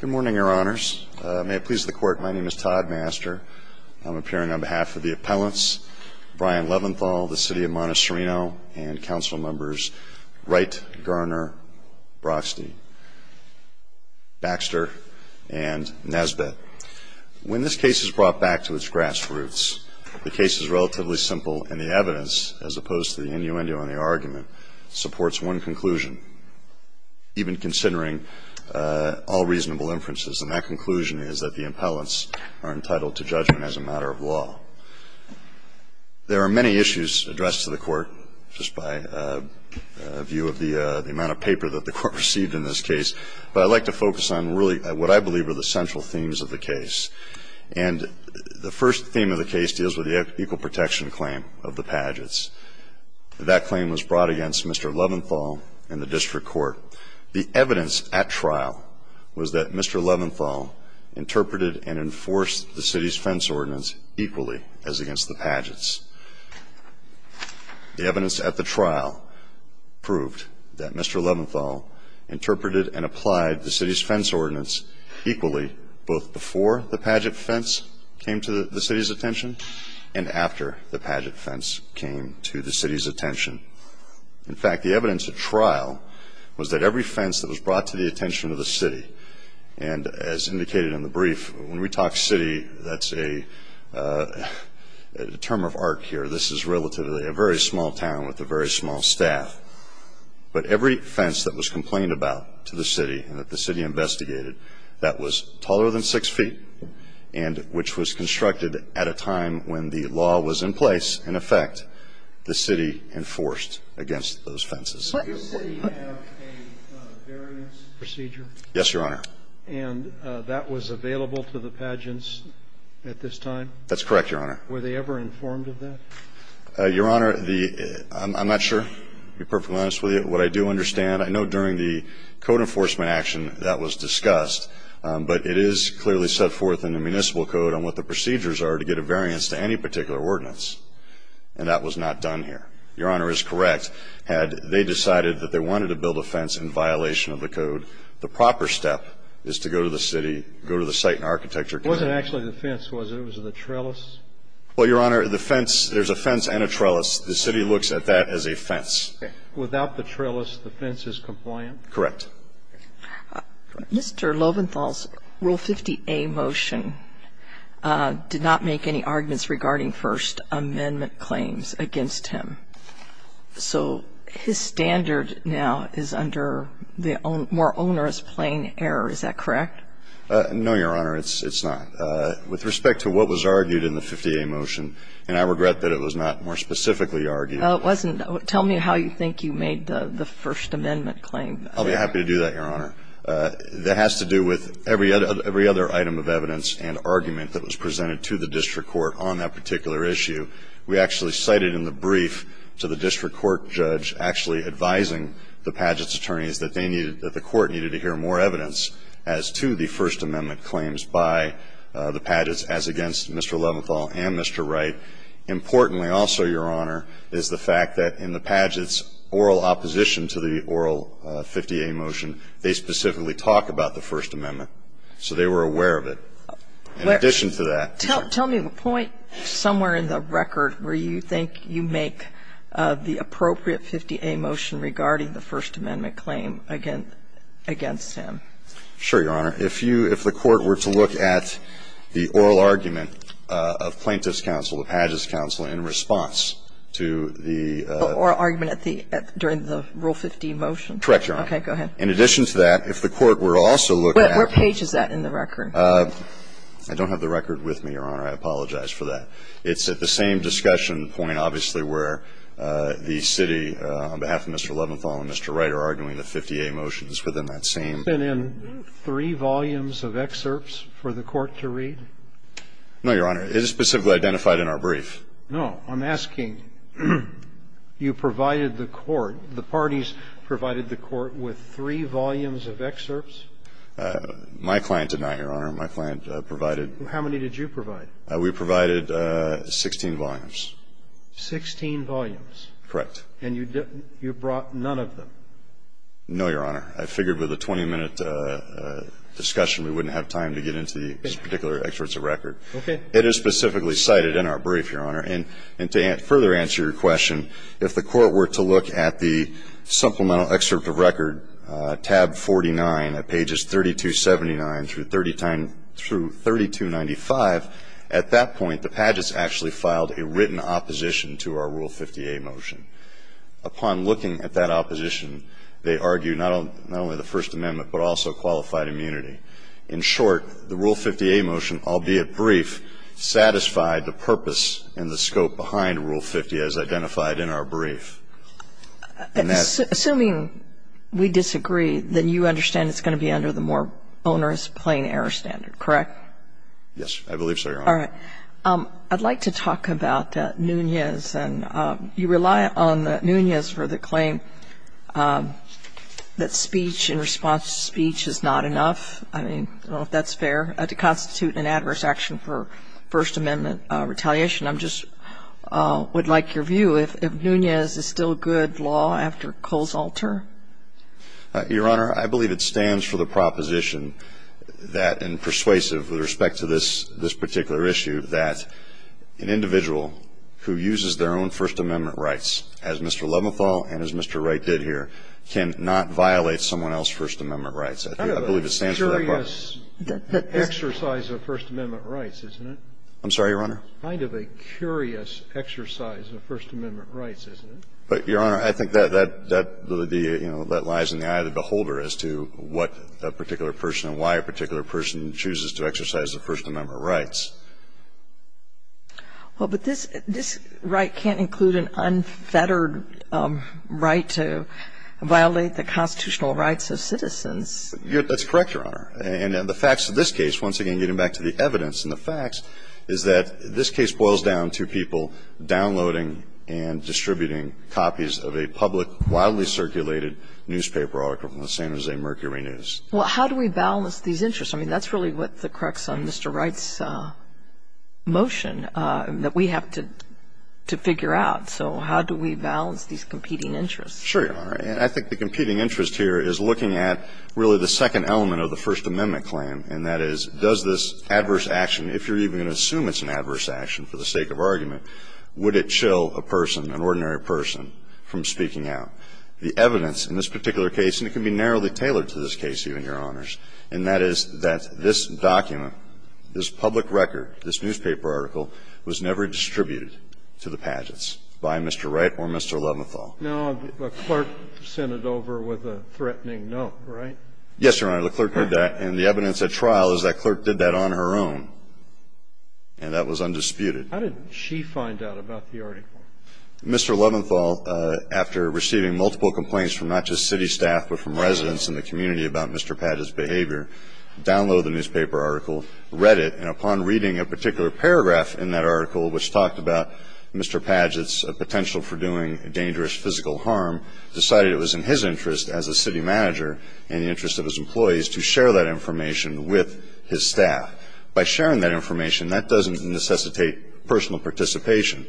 Good morning, your honors. May it please the court, my name is Todd Master. I'm appearing on behalf of the appellants, Brian Leventhal, the city of Montecerino, and council members Wright, Garner, Brockstein, Baxter, and Nesbitt. When this case is brought back to its grassroots, the case is relatively simple and the evidence, as opposed to the innuendo and the argument, supports one conclusion, even considering all reasonable inferences, and that conclusion is that the appellants are entitled to judgment as a matter of law. There are many issues addressed to the court, just by view of the amount of paper that the court received in this case, but I'd like to focus on really what I believe are the central themes of the case. And the first theme of the case deals with the equal protection claim of the Padgetts. That claim was brought against Mr. Leventhal in the district court. The evidence at trial was that Mr. Leventhal interpreted and enforced the city's fence ordinance equally as against the Padgetts. The evidence at the trial proved that Mr. Leventhal interpreted and applied the city's fence ordinance equally, both before the Padgett fence came to the city's attention. In fact, the evidence at trial was that every fence that was brought to the attention of the city, and as indicated in the brief, when we talk city, that's a term of art here. This is relatively a very small town with a very small staff. But every fence that was complained about to the city and that the city investigated that was taller than six feet and which was constructed at a time when the law was in place, in effect, the city enforced against those fences. Did the city have a variance procedure? Yes, Your Honor. And that was available to the Padgetts at this time? That's correct, Your Honor. Were they ever informed of that? Your Honor, I'm not sure, to be perfectly honest with you. What I do understand, I know during the code enforcement action that was discussed, but it is clearly set forth in the municipal code on what the procedures are to get a variance to any particular ordinance. And that was not done here. Your Honor is correct. Had they decided that they wanted to build a fence in violation of the code, the proper step is to go to the city, go to the site and architecture. It wasn't actually the fence, was it? It was the trellis? Well, Your Honor, the fence, there's a fence and a trellis. The city looks at that as a fence. Without the trellis, the fence is compliant? Correct. Mr. Loventhal's Rule 50A motion did not make any arguments regarding First Amendment claims against him. So his standard now is under the more onerous plain error, is that correct? No, Your Honor, it's not. With respect to what was argued in the 50A motion, and I regret that it was not more specifically argued. Well, it wasn't. Tell me how you think you made the First Amendment claim. I'll be happy to do that, Your Honor. That has to do with every other item of evidence and argument that was presented to the district court on that particular issue. We actually cited in the brief to the district court judge actually advising the Padgett's attorneys that they needed, that the court needed to hear more evidence as to the First Amendment claims by the Padgetts as against Mr. Loventhal and Mr. Wright. Importantly, also, Your Honor, is the fact that in the Padgett's oral opposition to the oral 50A motion, they specifically talk about the First Amendment. So they were aware of it. In addition to that ---- Tell me the point somewhere in the record where you think you make of the appropriate 50A motion regarding the First Amendment claim against him. Sure, Your Honor. If you – if the Court were to look at the oral argument of Plaintiff's counsel, the Padgett's counsel, in response to the ---- Oral argument at the – during the Rule 50 motion? Correct, Your Honor. Okay. Go ahead. In addition to that, if the Court were to also look at ---- Where page is that in the record? I don't have the record with me, Your Honor. I apologize for that. It's at the same discussion point, obviously, where the city, on behalf of Mr. Loventhal and Mr. Wright, are arguing the 50A motion is within that same ---- Has it been in three volumes of excerpts for the Court to read? No, Your Honor. It is specifically identified in our brief. No. I'm asking, you provided the Court, the parties provided the Court with three volumes of excerpts? My client did not, Your Honor. My client provided ---- How many did you provide? We provided 16 volumes. Sixteen volumes? Correct. And you brought none of them? No, Your Honor. I figured with a 20-minute discussion we wouldn't have time to get into these particular excerpts of record. Okay. It is specifically cited in our brief, Your Honor. And to further answer your question, if the Court were to look at the supplemental excerpt of record, tab 49, at pages 3279 through 3295, at that point, the Padgett's actually filed a written opposition to our Rule 50A motion. Upon looking at that opposition, they argue not only the First Amendment, but that Rule 50A motion, albeit brief, satisfied the purpose and the scope behind Rule 50, as identified in our brief. Assuming we disagree, then you understand it's going to be under the more bonerous plain error standard, correct? Yes. I believe so, Your Honor. All right. I'd like to talk about Nunez. And you rely on Nunez for the claim that speech in response to speech is not enough. I mean, I don't know if that's fair, to constitute an adverse action for First Amendment retaliation. I'm just — would like your view if Nunez is still good law after Cole's alter. Your Honor, I believe it stands for the proposition that, and persuasive with respect to this particular issue, that an individual who uses their own First Amendment rights, as Mr. Leventhal and as Mr. Wright did here, cannot violate someone else's First Amendment rights. I believe it stands for that proposition. Kind of a curious exercise of First Amendment rights, isn't it? I'm sorry, Your Honor? Kind of a curious exercise of First Amendment rights, isn't it? But, Your Honor, I think that, you know, that lies in the eye of the beholder as to what a particular person and why a particular person chooses to exercise the First Amendment rights. Well, but this — this right can't include an unfettered right to violate the constitutional rights of citizens. That's correct, Your Honor. And the facts of this case, once again getting back to the evidence and the facts, is that this case boils down to people downloading and distributing copies of a public, wildly circulated newspaper article from the San Jose Mercury News. Well, how do we balance these interests? I mean, that's really what the crux on Mr. Wright's motion that we have to figure out. So how do we balance these competing interests? Sure, Your Honor. And I think the competing interest here is looking at really the second element of the First Amendment claim, and that is, does this adverse action, if you're even going to assume it's an adverse action for the sake of argument, would it chill a person, an ordinary person, from speaking out? The evidence in this particular case, and it can be narrowly tailored to this case, Your Honor, is that this public record, this newspaper article, was never distributed to the pageants by Mr. Wright or Mr. Leventhal. Now, the clerk sent it over with a threatening no, right? Yes, Your Honor. The clerk did that. And the evidence at trial is that clerk did that on her own. And that was undisputed. How did she find out about the article? Mr. Leventhal, after receiving multiple complaints from not just city staff but from residents in the community about Mr. Padgett's behavior, downloaded the newspaper article, read it, and upon reading a particular paragraph in that article which talked about Mr. Padgett's potential for doing dangerous physical harm, decided it was in his interest as a city manager and the interest of his employees to share that information with his staff. By sharing that information, that doesn't necessitate personal participation.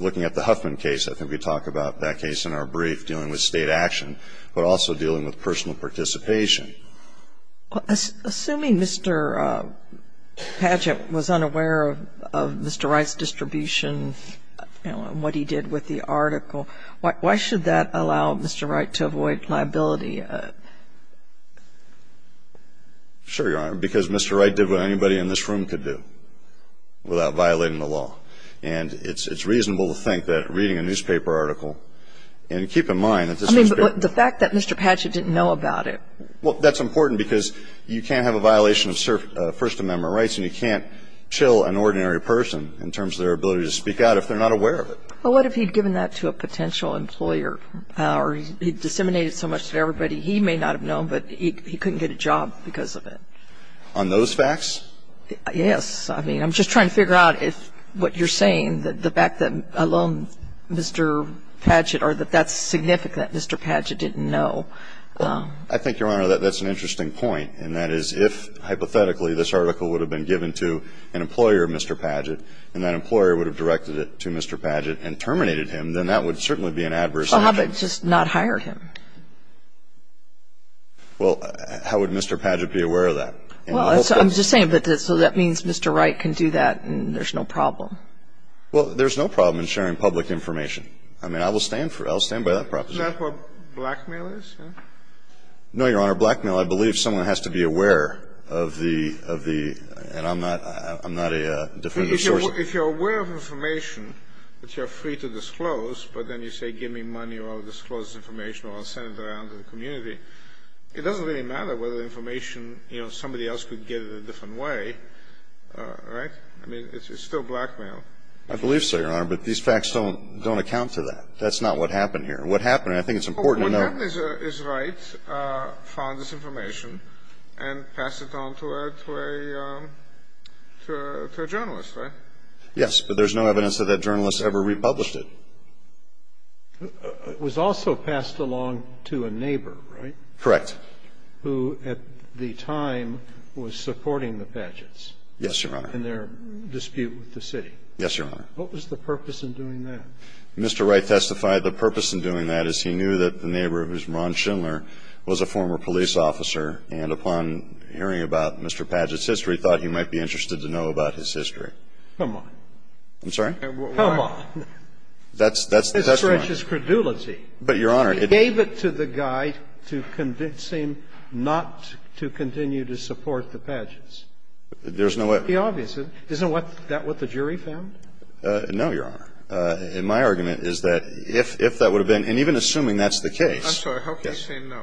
Looking at the Huffman case, I think we talk about that case in our brief dealing with State action, but also dealing with personal participation. Assuming Mr. Padgett was unaware of Mr. Wright's distribution and what he did with the article, why should that allow Mr. Wright to avoid liability? Sure, Your Honor, because Mr. Wright did what anybody in this room could do without violating the law. And it's reasonable to think that reading a newspaper article, and keep in mind that this newspaper article. I mean, but the fact that Mr. Padgett didn't know about it. Well, that's important because you can't have a violation of First Amendment rights and you can't chill an ordinary person in terms of their ability to speak out if they're not aware of it. But what if he'd given that to a potential employer or he disseminated so much to everybody he may not have known, but he couldn't get a job because of it? On those facts? Yes. I mean, I'm just trying to figure out if what you're saying that the fact that alone Mr. Padgett or that that's significant that Mr. Padgett didn't know. I think, Your Honor, that that's an interesting point, and that is if hypothetically this article would have been given to an employer, Mr. Padgett, and that employer would have directed it to Mr. Padgett and terminated him, then that would certainly be an adverse action. So how about just not hire him? Well, how would Mr. Padgett be aware of that? Well, I'm just saying that so that means Mr. Wright can do that and there's no problem. Well, there's no problem in sharing public information. I mean, I will stand for it. I'll stand by that proposition. Isn't that what blackmail is? No, Your Honor. Blackmail, I believe someone has to be aware of the, of the, and I'm not, I'm not a definitive source. If you're aware of information that you're free to disclose, but then you say give me money or I'll disclose information or I'll send it around to the community, it doesn't really matter whether the information, you know, somebody else could get it a different way, right? I mean, it's still blackmail. I believe so, Your Honor, but these facts don't, don't account for that. That's not what happened here. What happened, and I think it's important to note. Well, what happened is Wright found this information and passed it on to a, to a, to a journalist, right? Yes, but there's no evidence that that journalist ever republished it. It was also passed along to a neighbor, right? Correct. Who, at the time, was supporting the Padgett's. Yes, Your Honor. In their dispute with the city. Yes, Your Honor. What was the purpose in doing that? Mr. Wright testified the purpose in doing that is he knew that the neighbor, Ron Schindler, was a former police officer, and upon hearing about Mr. Padgett's history, thought he might be interested to know about his history. Come on. I'm sorry? Come on. That's, that's, that's not. That's precious credulity. But, Your Honor, it seems to me that Mr. Padgett's testimony is not enough to convince him not to continue to support the Padgett's. There's no way. It would be obvious. Isn't that what the jury found? No, Your Honor. My argument is that if that would have been, and even assuming that's the case. I'm sorry. How can you say no?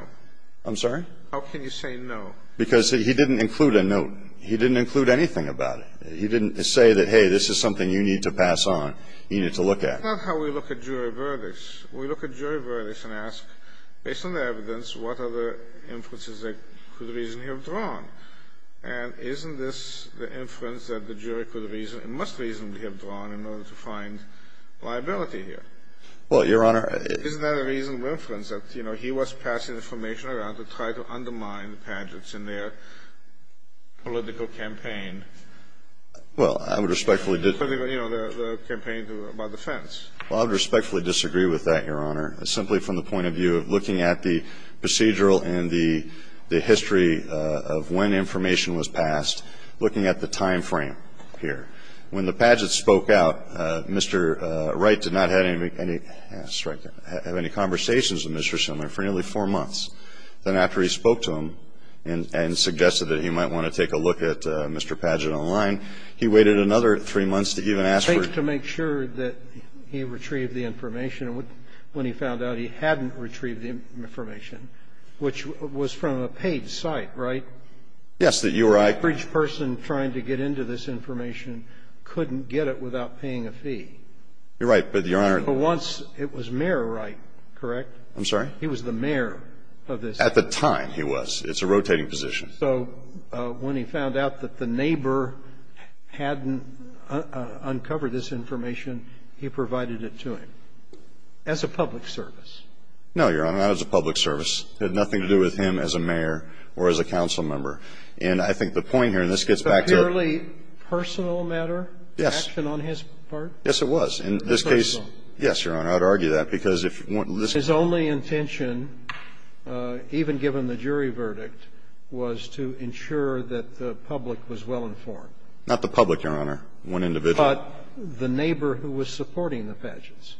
I'm sorry? How can you say no? Because he didn't include a note. He didn't include anything about it. He didn't say that, hey, this is something you need to pass on. You need to look at. That's not how we look at jury verdicts. We look at jury verdicts and ask, based on the evidence, what are the influences that could reasonably have drawn? And isn't this the inference that the jury could reasonably, must reasonably have drawn in order to find liability here? Well, Your Honor. Isn't that a reasonable inference that, you know, he was passing information around to try to undermine the pageants in their political campaign? Well, I would respectfully disagree. You know, the campaign about the fence. Well, I would respectfully disagree with that, Your Honor, simply from the point of view of looking at the procedural and the history of when information was passed, looking at the time frame here. When the pageants spoke out, Mr. Wright did not have any conversations with Mr. Pageant. Then after he spoke to him and suggested that he might want to take a look at Mr. Pageant online, he waited another three months to even ask for his. To make sure that he retrieved the information, when he found out he hadn't retrieved the information, which was from a paid site, right? Yes, that you or I. The average person trying to get into this information couldn't get it without paying a fee. You're right, but Your Honor. But once it was Mayor Wright, correct? I'm sorry? He was the mayor of this. At the time, he was. It's a rotating position. So when he found out that the neighbor hadn't uncovered this information, he provided it to him as a public service? No, Your Honor, not as a public service. It had nothing to do with him as a mayor or as a council member. And I think the point here, and this gets back to the ---- Was it a purely personal matter? Yes. The action on his part? Yes, it was. In this case ---- Personal? Yes, Your Honor. I would argue that, because if one ---- His only intention, even given the jury verdict, was to ensure that the public was well informed. Not the public, Your Honor. One individual. But the neighbor who was supporting the fadges.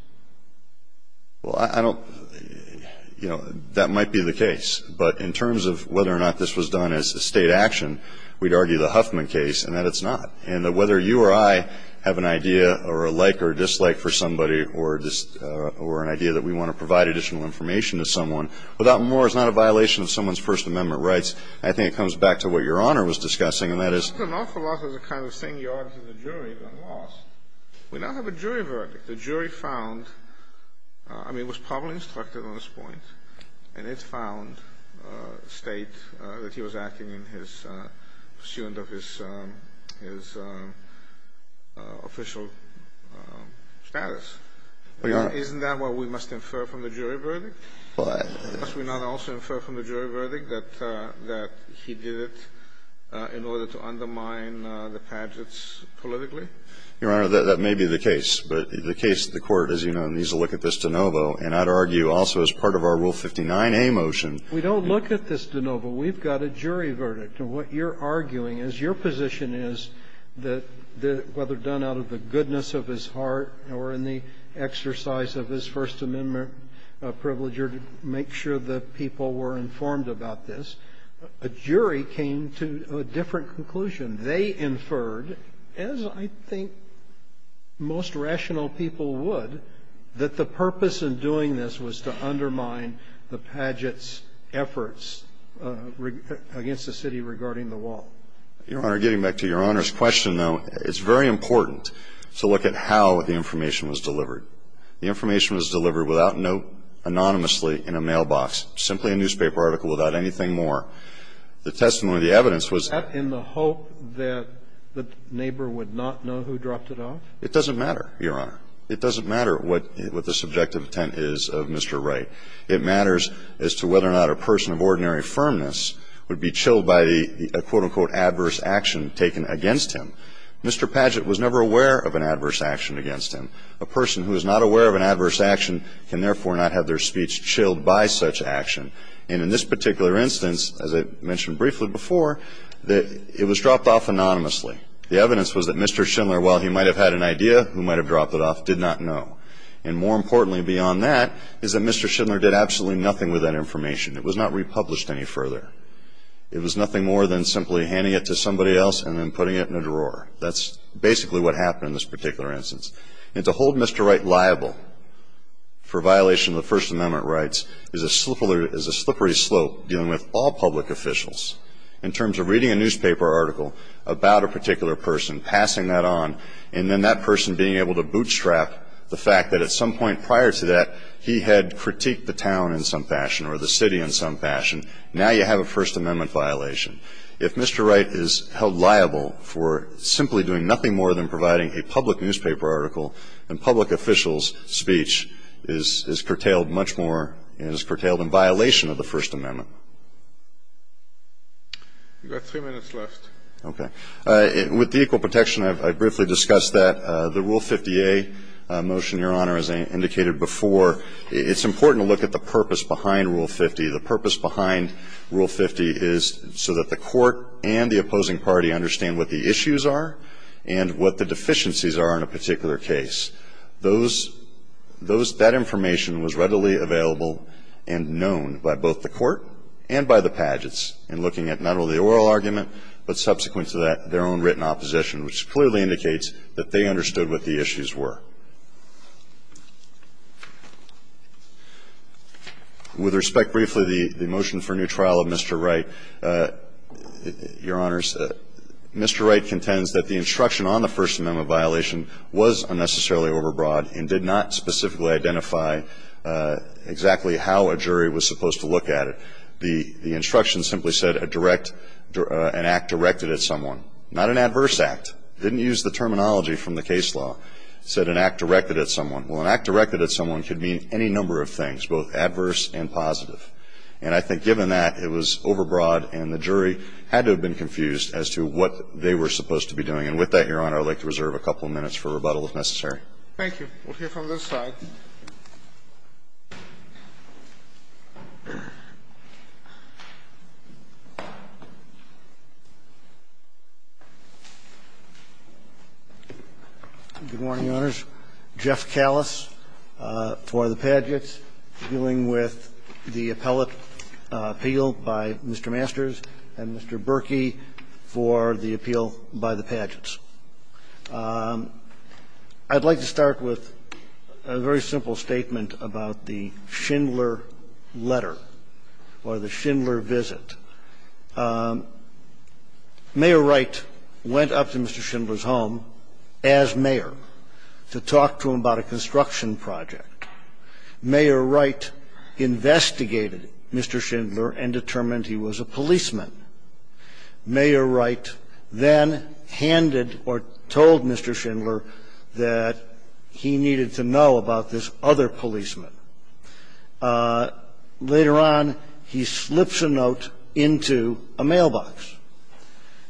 Well, I don't ---- you know, that might be the case. But in terms of whether or not this was done as a State action, we'd argue the Huffman case and that it's not. And that whether you or I have an idea, or a like or a dislike for somebody, or an idea that we want to provide additional information to someone, without more, it's not a violation of someone's First Amendment rights. I think it comes back to what Your Honor was discussing, and that is ---- That's an awful lot of the kind of thing you argue in the jury when lost. We now have a jury verdict. The jury found ---- I mean, it was probably instructed on this point, and it found that he was acting in his pursuant of his official status. Isn't that what we must infer from the jury verdict? Well, I ---- Must we not also infer from the jury verdict that he did it in order to undermine the fadges politically? Your Honor, that may be the case. But the case, the Court, as you know, needs to look at this de novo. And I'd argue also as part of our Rule 59a motion ---- We don't look at this de novo. We've got a jury verdict. And what you're arguing is your position is that whether done out of the goodness of his heart or in the exercise of his First Amendment privilege or to make sure that people were informed about this, a jury came to a different conclusion. They inferred, as I think most rational people would, that the purpose in doing this was to undermine the pageants' efforts against the city regarding the wall. Your Honor, getting back to Your Honor's question, though, it's very important to look at how the information was delivered. The information was delivered without note, anonymously, in a mailbox, simply a newspaper article without anything more. The testimony, the evidence was ---- It's an open and transparent case. And the question is, do you accept that in the hope that the neighbor would not know who dropped it off? It doesn't matter, Your Honor. It doesn't matter what the subjective intent is of Mr. Wright. It matters as to whether or not a person of ordinary firmness would be chilled by the, quote, unquote, adverse action taken against him. Mr. Padgett was never aware of an adverse action against him. A person who is not aware of an adverse action can therefore not have their speech chilled by such action. And in this particular instance, as I mentioned briefly before, it was dropped off anonymously. The evidence was that Mr. Schindler, while he might have had an idea who might have dropped it off, did not know. And more importantly beyond that is that Mr. Schindler did absolutely nothing with that information. It was not republished any further. It was nothing more than simply handing it to somebody else and then putting it in a drawer. That's basically what happened in this particular instance. And to hold Mr. Wright liable for violation of the First Amendment rights is a slippery slope dealing with all public officials in terms of reading a newspaper article about a particular person, passing that on, and then that person being able to bootstrap the fact that at some point prior to that, he had critiqued the town in some fashion or the city in some fashion. Now you have a First Amendment violation. If Mr. Wright is held liable for simply doing nothing more than providing a public newspaper article, then public officials' speech is curtailed much more and is curtailed in violation of the First Amendment. You've got three minutes left. Okay. With the equal protection, I briefly discussed that. The Rule 50A motion, Your Honor, as I indicated before, it's important to look at the purpose behind Rule 50. The purpose behind Rule 50 is so that the court and the opposing party understand what the issues are and what the deficiencies are in a particular case. Those – that information was readily available and known by both the court and by the pageants in looking at not only the oral argument, but subsequent to that, their own written opposition, which clearly indicates that they understood what the issues were. With respect, briefly, the motion for new trial of Mr. Wright, Your Honors, Mr. Wright contends that the instruction on the First Amendment violation was unnecessarily overbroad and did not specifically identify exactly how a jury was supposed to look at it. The instruction simply said a direct – an act directed at someone, not an adverse act. It didn't use the terminology from the case law. It said an act directed at someone. Well, an act directed at someone could mean any number of things, both adverse and positive. And I think given that, it was overbroad and the jury had to have been confused as to what they were supposed to be doing. And with that, Your Honor, I would like to reserve a couple of minutes for rebuttal if necessary. Thank you. We'll hear from this side. Good morning, Your Honors. Jeff Callis for the Padgets, dealing with the appellate appeal by Mr. Masters and Mr. Berkey for the appeal by the Padgets. I'd like to start with a very simple statement about the Schindler letter or the Schindler visit. Mayor Wright went up to Mr. Schindler's home as mayor to talk to him about a construction project. Mayor Wright investigated Mr. Schindler and determined he was a policeman. Mayor Wright then handed or told Mr. Schindler that he needed to know about this other policeman. Later on, he slips a note into a mailbox.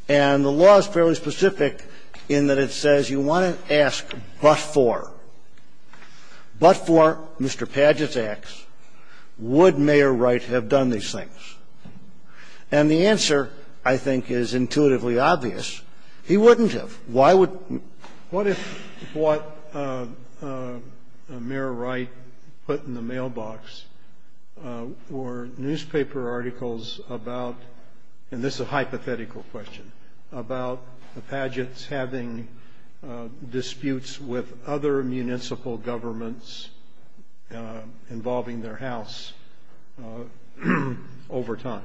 And the law is fairly specific in that it says you want to ask but for. But for, Mr. Padgett asks, would Mayor Wright have done these things? And the answer, I think, is intuitively obvious. He wouldn't have. Why would he? What if what Mayor Wright put in the mailbox were newspaper articles about, and this is a hypothetical question, about the Padgets having disputes with other municipal governments involving their house over time?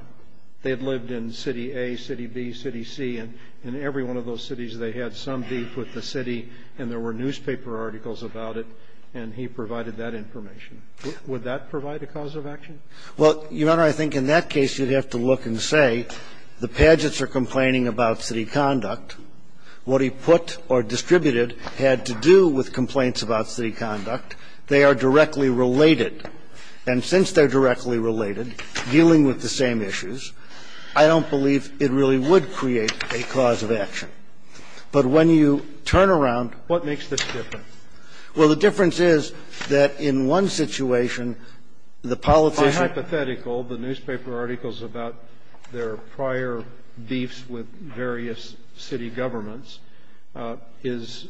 They had lived in City A, City B, City C. And in every one of those cities, they had some beef with the city, and there were newspaper articles about it. And he provided that information. Would that provide a cause of action? Well, Your Honor, I think in that case, you'd have to look and say the Padgets are complaining about city conduct. What he put or distributed had to do with complaints about city conduct. They are directly related. And since they're directly related, dealing with the same issues, I don't believe it really would create a cause of action. But when you turn around What makes this different? Well, the difference is that in one situation, the politician By hypothetical, the newspaper articles about their prior beefs with various city governments is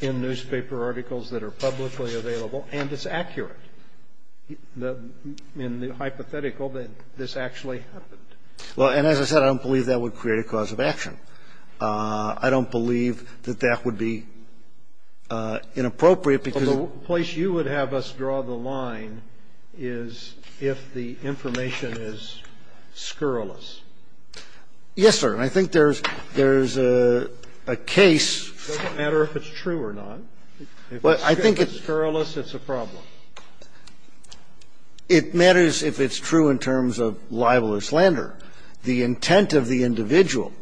in newspaper articles that are publicly available, and it's accurate in the hypothetical that this actually happened. Well, and as I said, I don't believe that would create a cause of action. I don't believe that that would be inappropriate because The place you would have us draw the line is if the information is scurrilous. Yes, sir. And I think there's a case It doesn't matter if it's true or not. If it's scurrilous, it's a problem. It matters if it's true in terms of libel or slander. The intent of the individual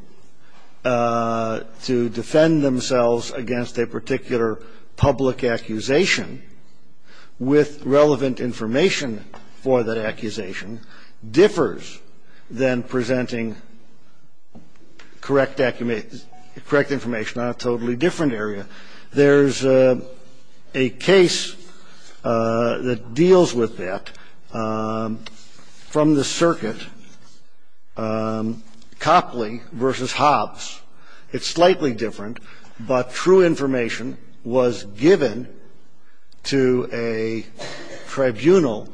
to defend themselves against a particular public accusation with relevant information for that accusation differs than presenting correct information on a totally different area. There's a case that deals with that from the circuit, Copley v. Hobbs. It's slightly different, but true information was given to a tribunal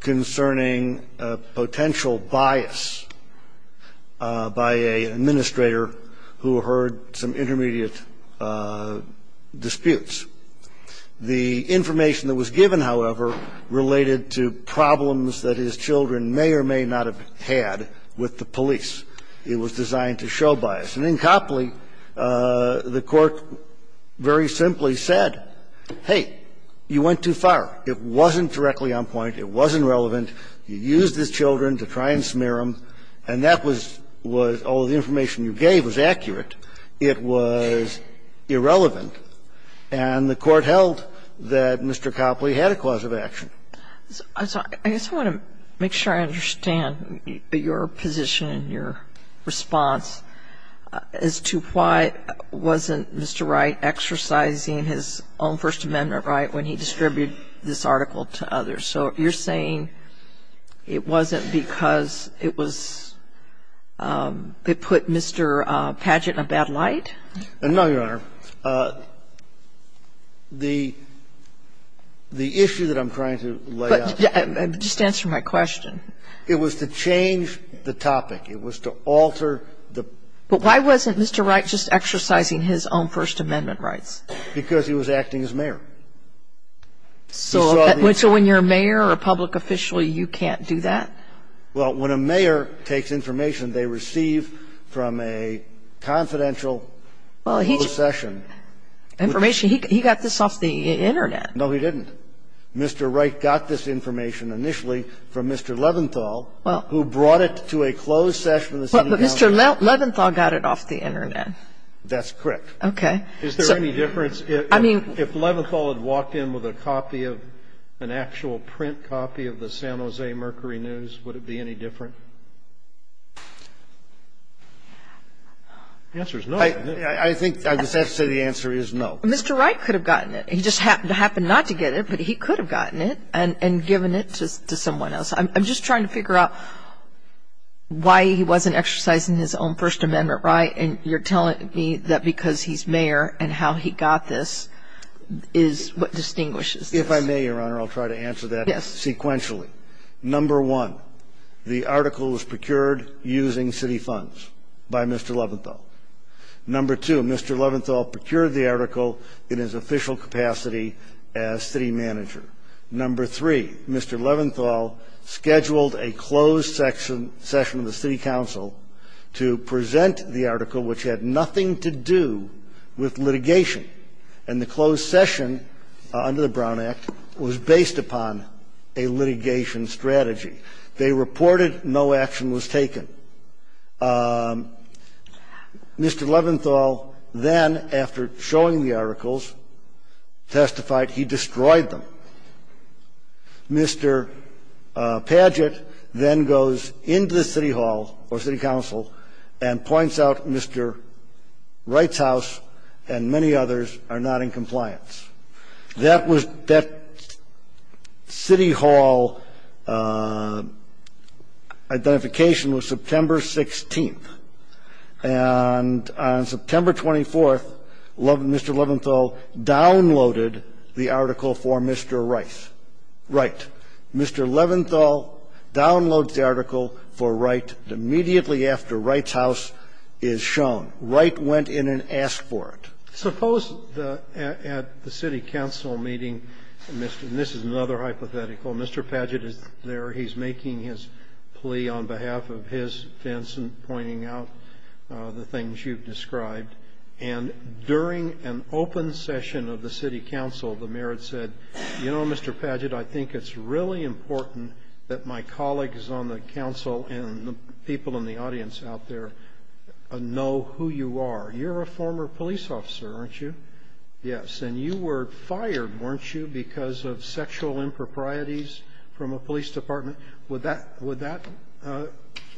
concerning a potential bias by an administrator who heard some intermediate disputes. The information that was given, however, related to problems that his children may or may not have had with the police. It was designed to show bias. And in Copley, the Court very simply said, hey, you went too far. It wasn't directly on point. It wasn't relevant. You used his children to try and smear them. And that was all the information you gave was accurate. It was irrelevant. And the Court held that Mr. Copley had a cause of action. I'm sorry. I just want to make sure I understand your position and your response as to why wasn't Mr. Wright exercising his own First Amendment right when he distributed this article to others. So you're saying it wasn't because it was they put Mr. Padgett in a bad light? No, Your Honor. The issue that I'm trying to lay out. Just answer my question. It was to change the topic. It was to alter the ---- But why wasn't Mr. Wright just exercising his own First Amendment rights? Because he was acting as mayor. So when you're a mayor or a public official, you can't do that? Well, when a mayor takes information they receive from a confidential closed session. Information. He got this off the Internet. No, he didn't. Mr. Wright got this information initially from Mr. Leventhal, who brought it to a closed session of the city council. But Mr. Leventhal got it off the Internet. That's correct. Okay. Is there any difference if Leventhal had walked in with a copy of an actual print copy of the San Jose Mercury News, would it be any different? The answer is no. I think I would have to say the answer is no. Mr. Wright could have gotten it. He just happened not to get it, but he could have gotten it and given it to someone else. I'm just trying to figure out why he wasn't exercising his own First Amendment right, and you're telling me that because he's mayor and how he got this is what distinguishes this. If I may, Your Honor, I'll try to answer that. Yes. Sequentially. Number one, the article was procured using city funds by Mr. Leventhal. Number two, Mr. Leventhal procured the article in his official capacity as city manager. Number three, Mr. Leventhal scheduled a closed session of the city council to present the article, which had nothing to do with litigation. And the closed session under the Brown Act was based upon a litigation strategy. They reported no action was taken. Mr. Leventhal then, after showing the articles, testified he destroyed them. Mr. Padgett then goes into the city hall or city council and points out Mr. Wright's house and many others are not in compliance. That was that city hall identification was September 16th. And on September 24th, Mr. Leventhal downloaded the article for Mr. Wright. Mr. Leventhal downloads the article for Wright immediately after Wright's house is shown. Wright went in and asked for it. Suppose at the city council meeting, and this is another hypothetical. Mr. Padgett is there. He's making his plea on behalf of his defense and pointing out the things you've described. And during an open session of the city council, the mayor had said, you know, Mr. Padgett, I think it's really important that my colleagues on the council and the people in the You're a former police officer, aren't you? Yes. And you were fired, weren't you, because of sexual improprieties from a police department? Would that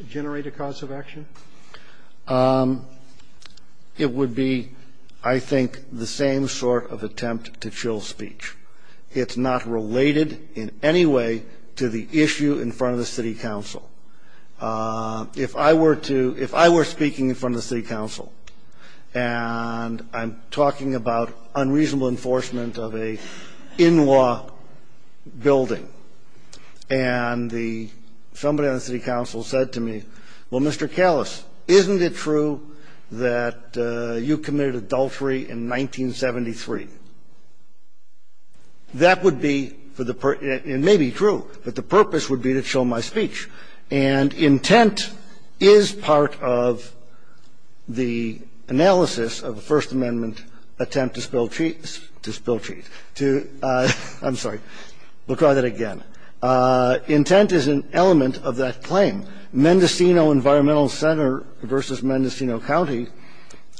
generate a cause of action? It would be, I think, the same sort of attempt to chill speech. It's not related in any way to the issue in front of the city council. If I were to ‑‑ if I were speaking in front of the city council, and I'm talking about unreasonable enforcement of an in‑law building, and somebody on the city council said to me, well, Mr. Kallis, isn't it true that you committed adultery in 1973? That would be for the ‑‑ it may be true, but the purpose would be to chill my speech. And intent is part of the analysis of the First Amendment attempt to spill cheese ‑‑ to spill cheese. I'm sorry. We'll try that again. Intent is an element of that claim. Mendocino Environmental Center v. Mendocino County,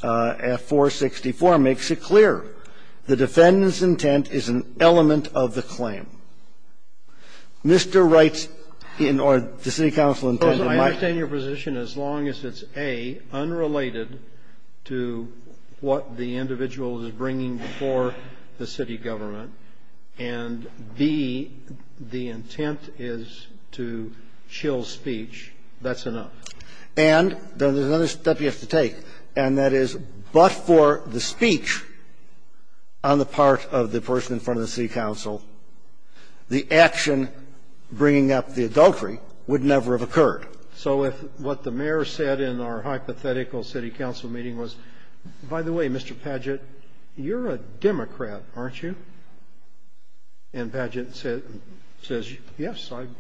F464, makes it clear. The defendant's intent is an element of the claim. Mr. Wright's ‑‑ or the city council's intent is ‑‑ I understand your position as long as it's, A, unrelated to what the individual is bringing before the city government, and, B, the intent is to chill speech. That's enough. And there's another step you have to take, and that is, but for the speech on the part of the person in front of the city council, the action bringing up the adultery would never have occurred. So if what the mayor said in our hypothetical city council meeting was, by the way, Mr. Padgett, you're a Democrat, aren't you? And Padgett says, yes, I've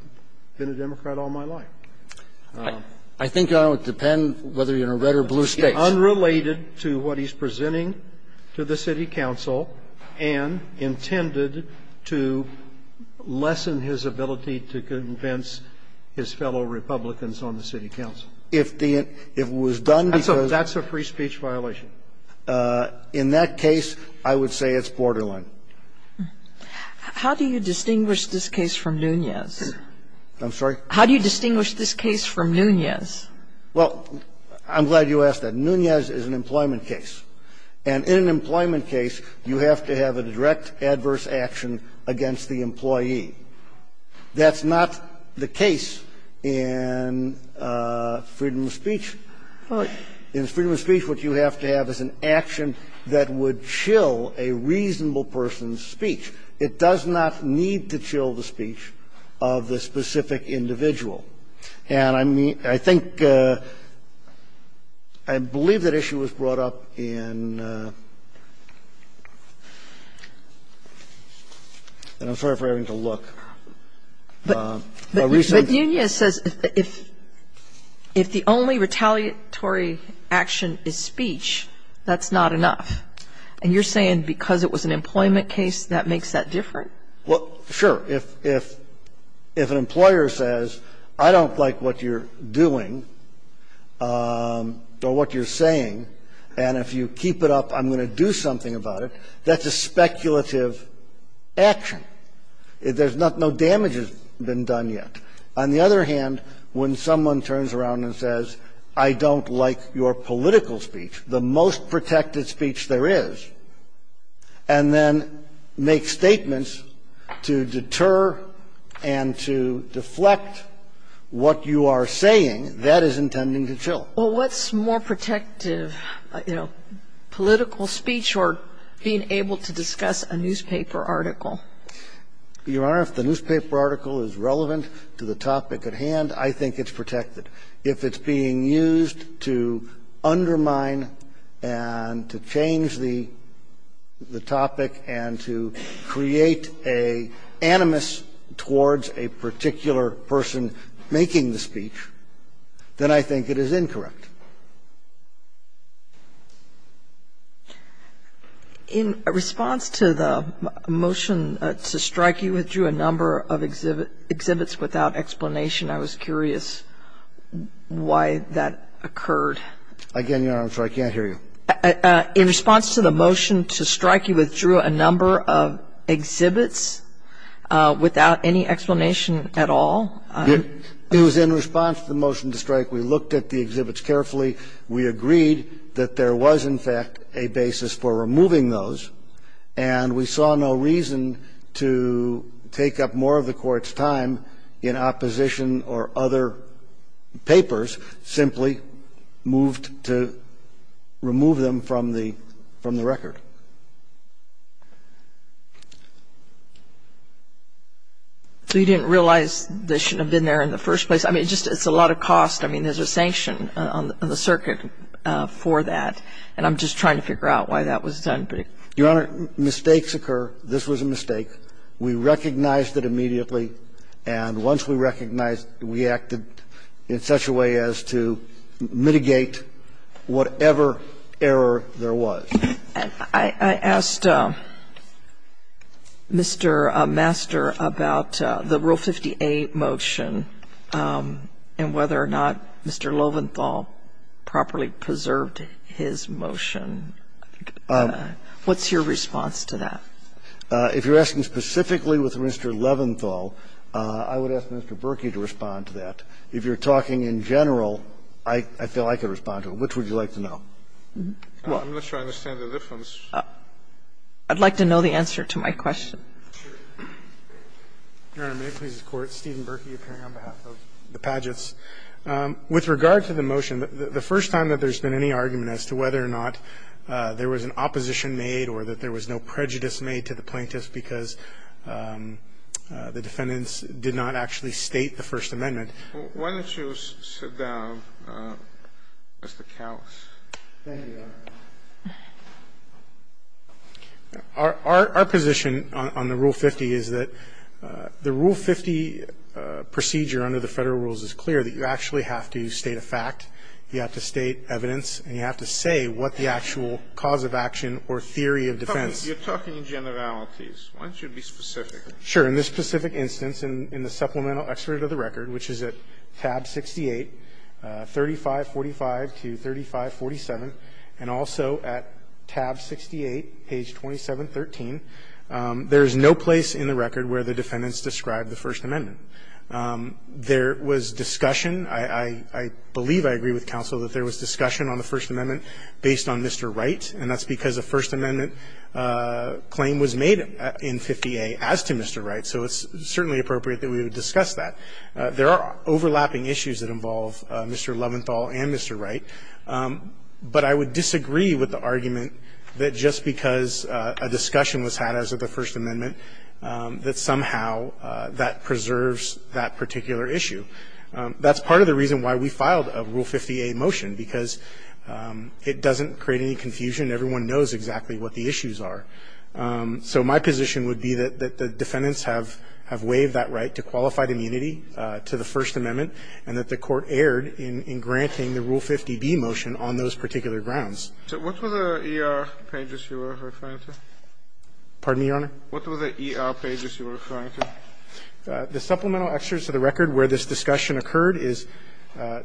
been a Democrat all my life. I think it would depend whether you're in a red or blue state. The defendant's intent is unrelated to what he's presenting to the city council and intended to lessen his ability to convince his fellow Republicans on the city council. If the ‑‑ if it was done because ‑‑ That's a free speech violation. In that case, I would say it's borderline. How do you distinguish this case from Nunez? I'm sorry? How do you distinguish this case from Nunez? Well, I'm glad you asked that. Nunez is an employment case. And in an employment case, you have to have a direct adverse action against the employee. That's not the case in freedom of speech. In freedom of speech, what you have to have is an action that would chill a reasonable person's speech. It does not need to chill the speech of the specific individual. And I think ‑‑ I believe that issue was brought up in ‑‑ and I'm sorry for having to look. But Nunez says if the only retaliatory action is speech, that's not enough. And you're saying because it was an employment case, that makes that different? Well, sure. If an employer says, I don't like what you're doing or what you're saying, and if you keep it up, I'm going to do something about it, that's a speculative action. There's not ‑‑ no damage has been done yet. On the other hand, when someone turns around and says, I don't like your political speech, the most protected speech there is, and then makes statements to deter and to deflect what you are saying, that is intending to chill. Well, what's more protective, you know, political speech or being able to discuss a newspaper article? Your Honor, if the newspaper article is relevant to the topic at hand, I think it's protected. If it's being used to undermine and to change the topic and to create an animus towards a particular person making the speech, then I think it is incorrect. In response to the motion to strike, you withdrew a number of exhibits without explanation. I was curious why that occurred. Again, Your Honor, I'm sorry. I can't hear you. In response to the motion to strike, you withdrew a number of exhibits without any explanation at all. It was in response to the motion to strike. We looked at the exhibits carefully. We agreed that there was, in fact, a basis for removing those, and we saw no reason to take up more of the Court's time in opposition or other papers, simply moved to remove them from the record. So you didn't realize they shouldn't have been there in the first place? I mean, just it's a lot of cost. I mean, there's a sanction on the circuit for that, and I'm just trying to figure out why that was done. Your Honor, mistakes occur. This was a mistake. We recognized it immediately. And once we recognized it, we acted in such a way as to mitigate whatever error there was. I asked Mr. Master about the Rule 50a motion and whether or not Mr. Lowenthal properly preserved his motion. What's your response to that? If you're asking specifically with Mr. Lowenthal, I would ask Mr. Berkey to respond to that. If you're talking in general, I feel I could respond to it. Which would you like to know? Well, I'm not sure I understand the difference. I'd like to know the answer to my question. Your Honor, may it please the Court, Stephen Berkey appearing on behalf of the Padgetts. With regard to the motion, the first time that there's been any argument as to whether or not there was an opposition made or that there was no prejudice made to the plaintiffs because the defendants did not actually state the First Amendment. Why don't you sit down, Mr. Cowles? Thank you, Your Honor. Our position on the Rule 50 is that the Rule 50 procedure under the Federal rules is clear, that you actually have to state a fact, you have to state evidence, and you have to say what the actual cause of action or theory of defense. You're talking in generalities. Why don't you be specific? Sure. In this specific instance, in the supplemental excerpt of the record, which is at tab 68, 3545 to 3547, and also at tab 68, page 2713, there is no place in the record where the defendants described the First Amendment. There was discussion. I believe I agree with counsel that there was discussion on the First Amendment based on Mr. Wright, and that's because a First Amendment claim was made in 50A as to Mr. Wright, so it's certainly appropriate that we would discuss that. There are overlapping issues that involve Mr. Leventhal and Mr. Wright, but I would disagree with the argument that just because a discussion was had as of the First Amendment, that somehow that preserves that particular issue. That's part of the reason why we filed a Rule 50A motion, because it doesn't create any confusion. Everyone knows exactly what the issues are. So my position would be that the defendants have waived that right to qualified immunity to the First Amendment and that the Court erred in granting the Rule 50B motion on those particular grounds. So what were the ER pages you were referring to? Pardon me, Your Honor? What were the ER pages you were referring to? The supplemental excerpts of the record where this discussion occurred is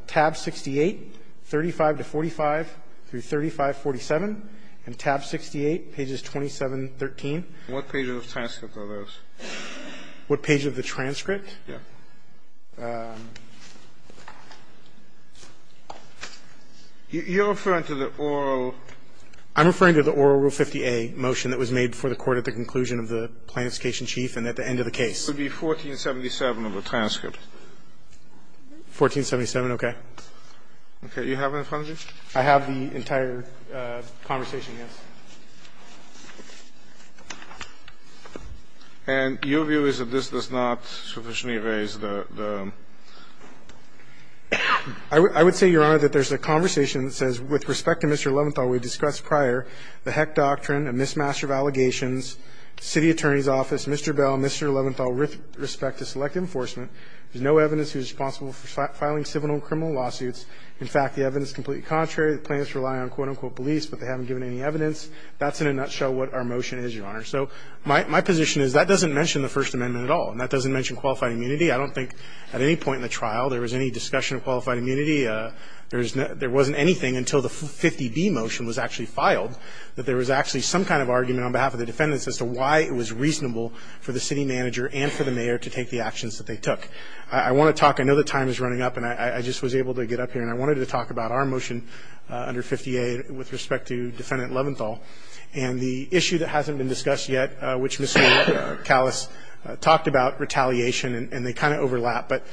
tab 68, 35 to 45, through 3547, and tab 68, pages 27, 13. What page of the transcript are those? What page of the transcript? Yes. You're referring to the oral? I'm referring to the oral Rule 50A motion that was made before the Court at the conclusion of the Plaintiff's case in Chief and at the end of the case. It would be 1477 of the transcript. 1477, okay. Okay. You have it in front of you? I have the entire conversation, yes. And your view is that this does not sufficiently raise the – the – I would say, Your Honor, that there's a conversation that says, with respect to Mr. Leventhal, we've discussed prior the Heck Doctrine, a mismatch of allegations, city attorney's office, Mr. Bell, Mr. Leventhal, with respect to select enforcement, there's no evidence who's responsible for filing civil and criminal lawsuits. In fact, the evidence is completely contrary. The plaintiffs rely on, quote, unquote, police, but they haven't given any evidence. That's in a nutshell what our motion is, Your Honor. So my position is that doesn't mention the First Amendment at all, and that doesn't mention qualified immunity. I don't think at any point in the trial there was any discussion of qualified immunity. There wasn't anything until the 50B motion was actually filed that there was actually some kind of argument on behalf of the defendants as to why it was reasonable for the city manager and for the mayor to take the actions that they took. I want to talk – I know the time is running up, and I just was able to get up here, and I wanted to talk about our motion under 50A with respect to Defendant Leventhal and the issue that hasn't been discussed yet, which Ms. Callis talked about, retaliation, and they kind of overlap. But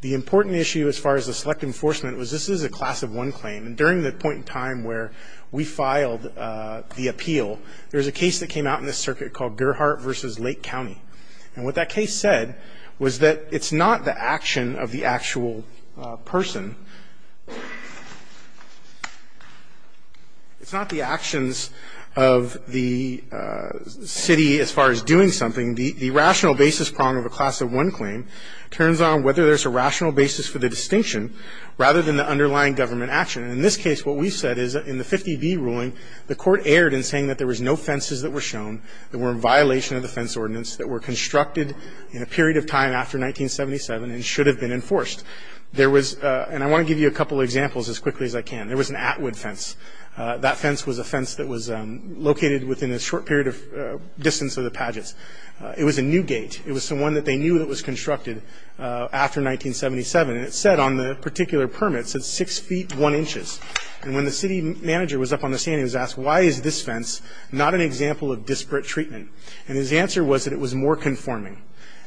the important issue as far as the select enforcement was this is a class of one claim, and during the point in time where we filed the appeal, there was a case that came out in the circuit called Gerhart v. Lake County. And what that case said was that it's not the action of the actual person. It's not the actions of the city as far as doing something. The rational basis prong of a class of one claim turns on whether there's a rational basis for the distinction rather than the underlying government action. And in this case, what we've said is that in the 50B ruling, the court erred in saying that there was no fences that were shown that were in violation of the fence ordinance that were constructed in a period of time after 1977 and should have been enforced. There was – and I want to give you a couple of examples as quickly as I can. There was an Atwood fence. That fence was a fence that was located within a short period of distance of the pageants. It was a new gate. It was the one that they knew that was constructed after 1977. And it said on the particular permit, it said 6 feet 1 inches. And when the city manager was up on the stand, he was asked, why is this fence not an example of disparate treatment? And his answer was that it was more conforming,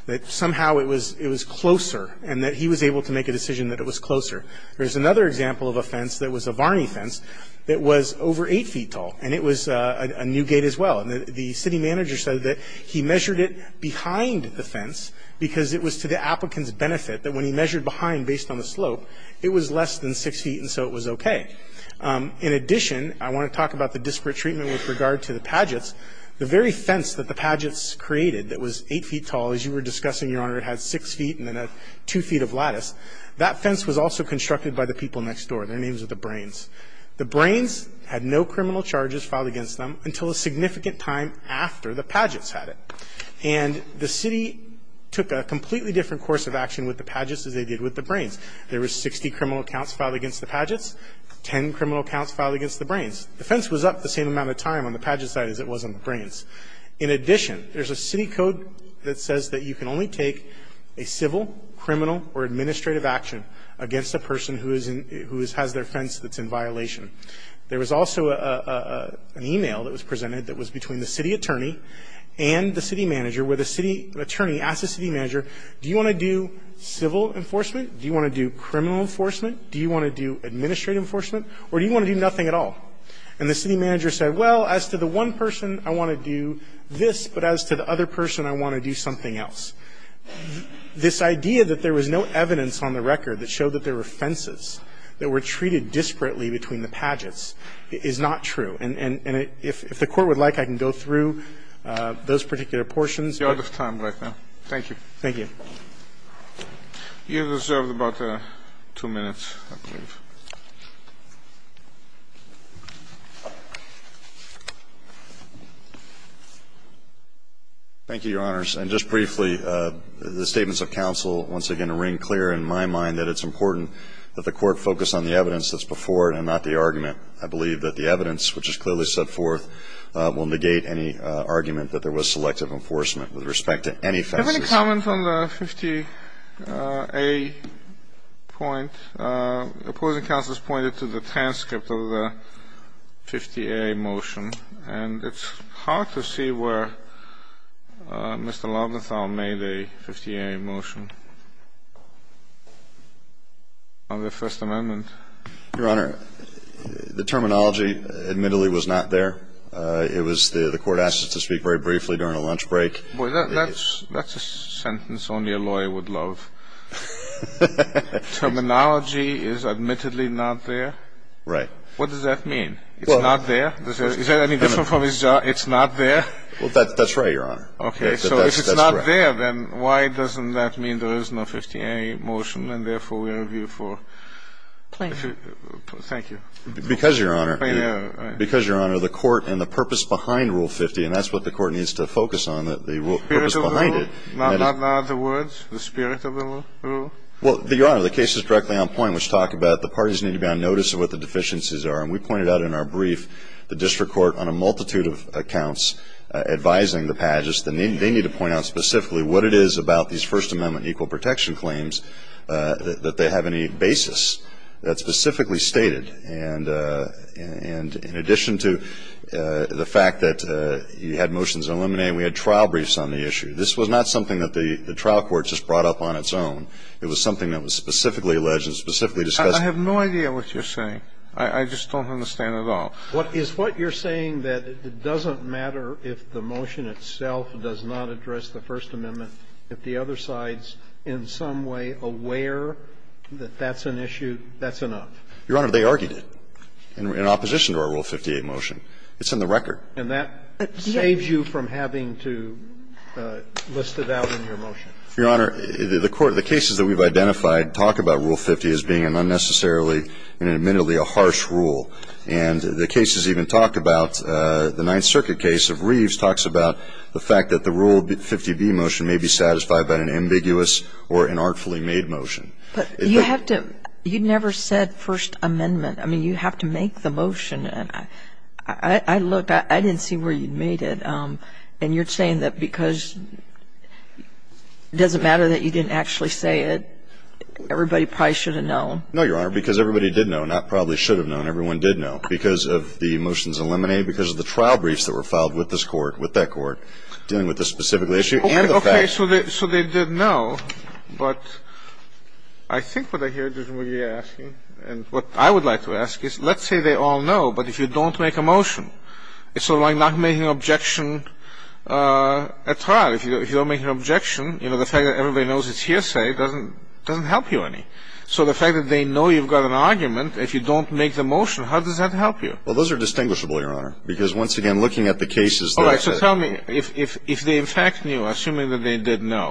that somehow it was closer, and that he was able to make a decision that it was closer. There's another example of a fence that was a Varney fence that was over 8 feet tall, and it was a new gate as well. And the city manager said that he measured it behind the fence because it was to the applicant's benefit that when he measured behind based on the slope, it was less than 6 feet and so it was okay. In addition, I want to talk about the disparate treatment with regard to the pageants. The very fence that the pageants created that was 8 feet tall, as you were discussing, Your Honor, it had 6 feet and then a 2 feet of lattice, that fence was also constructed by the people next door. Their names were the Brains. The Brains had no criminal charges filed against them until a significant time after the pageants had it. And the city took a completely different course of action with the pageants as they did with the Brains. There were 60 criminal counts filed against the pageants, 10 criminal counts filed against the Brains. The fence was up the same amount of time on the pageant side as it was on the Brains. In addition, there's a city code that says that you can only take a civil, criminal, or administrative action against a person who has their fence that's in violation. There was also an e-mail that was presented that was between the city attorney and the city manager where the city attorney asked the city manager, do you want to do civil enforcement, do you want to do criminal enforcement, do you want to do administrative enforcement, or do you want to do nothing at all? And the city manager said, well, as to the one person, I want to do this, but as to the other person, I want to do something else. This idea that there was no evidence on the record that showed that there were fences that were treated disparately between the pageants is not true. And if the Court would like, I can go through those particular portions. You're out of time right now. Thank you. You deserve about two minutes, I believe. Thank you, Your Honors. And just briefly, the statements of counsel once again ring clear in my mind that it's important that the Court focus on the evidence that's before it and not the argument. I believe that the evidence, which is clearly set forth, will negate any argument that there was selective enforcement with respect to any fences. Do you have any comments on the 50A point, opposing counsel's argument that there was a 50A motion, and it's hard to see where Mr. Langenthal made a 50A motion on the First Amendment? Your Honor, the terminology admittedly was not there. It was the Court asked us to speak very briefly during a lunch break. Boy, that's a sentence only a lawyer would love. Terminology is admittedly not there? Right. What does that mean? It's not there? Is that any different from his job? It's not there? Well, that's right, Your Honor. Okay, so if it's not there, then why doesn't that mean there is no 50A motion, and therefore we review for? Thank you. Because, Your Honor, the Court and the purpose behind Rule 50, and that's what the Court needs to focus on, the purpose behind it. Not the words, the spirit of the rule? Well, Your Honor, the case is directly on point, which talked about the parties need to be on notice of what the deficiencies are. And we pointed out in our brief the district court on a multitude of accounts advising the Padges. They need to point out specifically what it is about these First Amendment equal protection claims that they have any basis that's specifically stated. And in addition to the fact that you had motions eliminated, we had trial briefs on the issue. This was not something that the trial court just brought up on its own. It was something that was specifically alleged and specifically discussed. I have no idea what you're saying. I just don't understand at all. Is what you're saying that it doesn't matter if the motion itself does not address the First Amendment, if the other side's in some way aware that that's an issue, that's enough? Your Honor, they argued it in opposition to our Rule 58 motion. It's in the record. And that saves you from having to list it out in your motion. Your Honor, the court, the cases that we've identified talk about Rule 50 as being an unnecessarily and admittedly a harsh rule. And the cases even talk about the Ninth Circuit case of Reeves talks about the fact that the Rule 50b motion may be satisfied by an ambiguous or an artfully made motion. But you have to you never said First Amendment. I mean, you have to make the motion. I looked. I didn't see where you made it. And you're saying that because it doesn't matter that you didn't actually say it, everybody probably should have known. No, Your Honor. Because everybody did know, not probably should have known. Everyone did know because of the motions eliminated, because of the trial briefs that were filed with this Court, with that Court, dealing with this specific issue and the fact. Okay. So they did know. But I think what I hear, Judge McGee, asking, and what I would like to ask is let's say they all know. But if you don't make a motion, it's sort of like not making an objection at trial. If you don't make an objection, you know, the fact that everybody knows it's hearsay doesn't help you any. So the fact that they know you've got an argument, if you don't make the motion, how does that help you? Well, those are distinguishable, Your Honor, because once again, looking at the cases that I've said. All right. So tell me, if they in fact knew, assuming that they did know,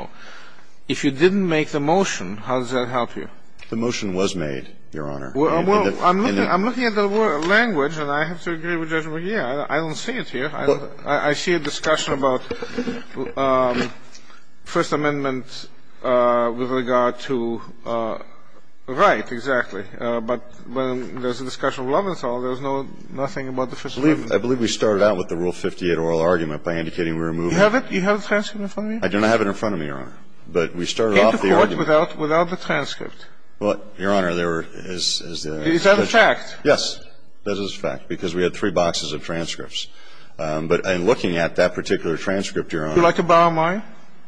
if you didn't make the motion, how does that help you? The motion was made, Your Honor. Well, I'm looking at the language, and I have to agree with Judge McGee. I don't see it here. I see a discussion about First Amendment with regard to right, exactly. But when there's a discussion of Loventhal, there's nothing about the First Amendment. I believe we started out with the Rule 58 oral argument by indicating we were moving You have it? You have the transcript in front of you? I do not have it in front of me, Your Honor. But we started off the argument. Came to court without the transcript. Well, Your Honor, there is the Is that a fact? Yes. That is a fact, because we had three boxes of transcripts. But in looking at that particular transcript, Your Honor Would you like to borrow mine?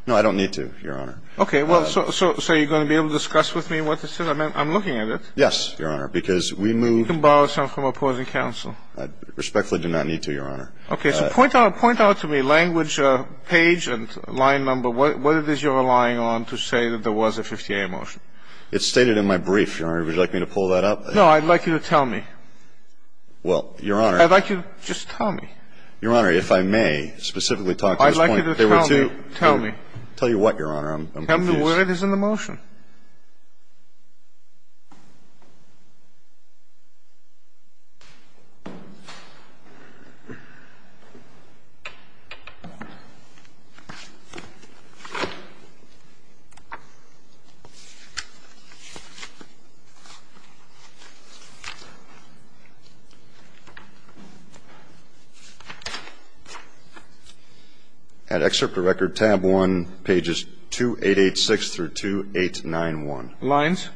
No, I don't need to, Your Honor. Okay. Well, so you're going to be able to discuss with me what this is? I'm looking at it. Yes, Your Honor, because we moved You can borrow some from opposing counsel. I respectfully do not need to, Your Honor. Okay. So point out to me, language, page, and line number, what it is you're relying on to say that there was a 58 motion? It's stated in my brief, Your Honor. Would you like me to pull that up? No, I'd like you to tell me. Well, Your Honor I'd like you to just tell me. Your Honor, if I may specifically talk at this point I'd like you to tell me. Tell you what, Your Honor? Tell me what it is in the motion. At excerpt of record, tab 1, pages 2886 through 289, Lines?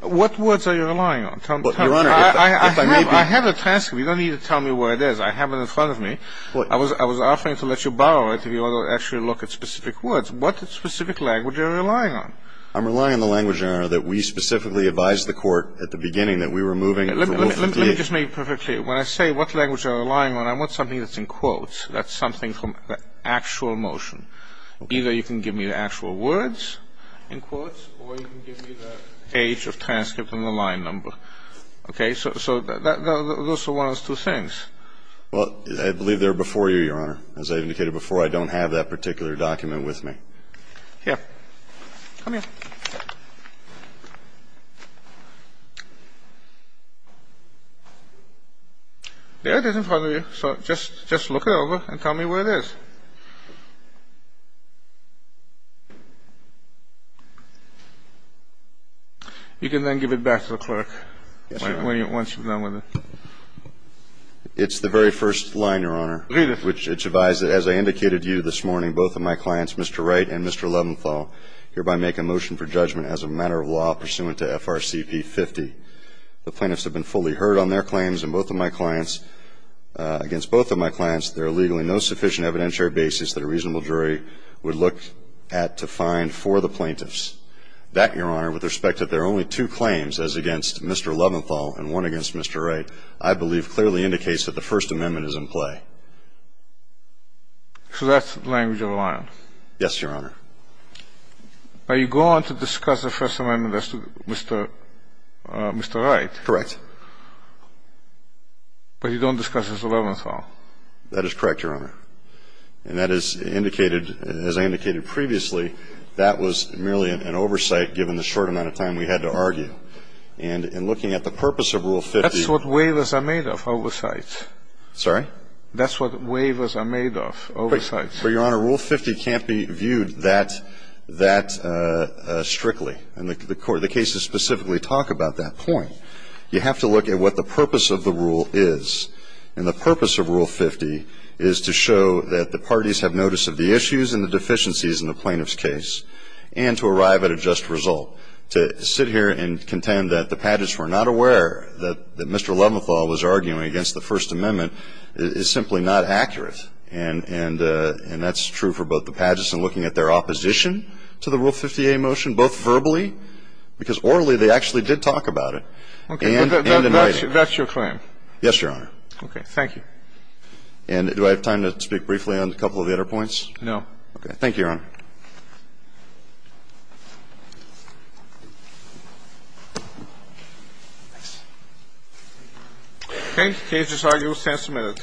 What words are you relying on? Tell me. Your Honor, if I may be I have a transcript. You don't need to tell me where it is. I have it in front of me. I was offering to let you borrow it if you want to actually look at specific words. What specific language are you relying on? I'm relying on the language, Your Honor, that we specifically advised the court at the beginning that we were moving for wolf and deer. Let me just make it perfectly clear. When I say what language I'm relying on, I want something that's in quotes. That's something from the actual motion. Either you can give me the actual words in quotes or you can give me the page of transcript and the line number. Okay? So those are one of those two things. Well, I believe they're before you, Your Honor. As I indicated before, I don't have that particular document with me. Here. Come here. There it is in front of you. So just look it over and tell me where it is. You can then give it back to the clerk once you're done with it. It's the very first line, Your Honor. Read it. Which it's advised that as I indicated to you this morning, both of my clients, Mr. Wright and Mr. Leventhal, hereby make a motion for judgment as a matter of law pursuant to FRCP 50. The plaintiffs have been fully heard on their claims, and both of my clients – against both of my clients, there are legally no sufficient evidentiary basis that a reasonable jury would look at to find for the plaintiffs. That, Your Honor, with respect that there are only two claims as against Mr. Leventhal and one against Mr. Wright, I believe clearly indicates that the First Amendment is in play. So that's the language of the line? Yes, Your Honor. Are you going to discuss the First Amendment as to Mr. Wright? Correct. But you don't discuss as to Leventhal? That is correct, Your Honor. And that is indicated – as I indicated previously, that was merely an oversight given the short amount of time we had to argue. And in looking at the purpose of Rule 50 – That's what waivers are made of, oversights. Sorry? That's what waivers are made of, oversights. But, Your Honor, Rule 50 can't be viewed that – that strictly. And the cases specifically talk about that point. You have to look at what the purpose of the rule is. And the purpose of Rule 50 is to show that the parties have notice of the issues and the deficiencies in the plaintiff's case and to arrive at a just result. To sit here and contend that the Padgett's were not aware that Mr. Leventhal was arguing against the First Amendment is simply not accurate. And that's true for both the Padgett's in looking at their opposition to the Rule 50a motion, both verbally – because orally they actually did talk about it – and in writing. That's your claim? Yes, Your Honor. Okay. Thank you. And do I have time to speak briefly on a couple of the other points? No. Okay. Thank you, Your Honor. Okay. Cases are used and submitted.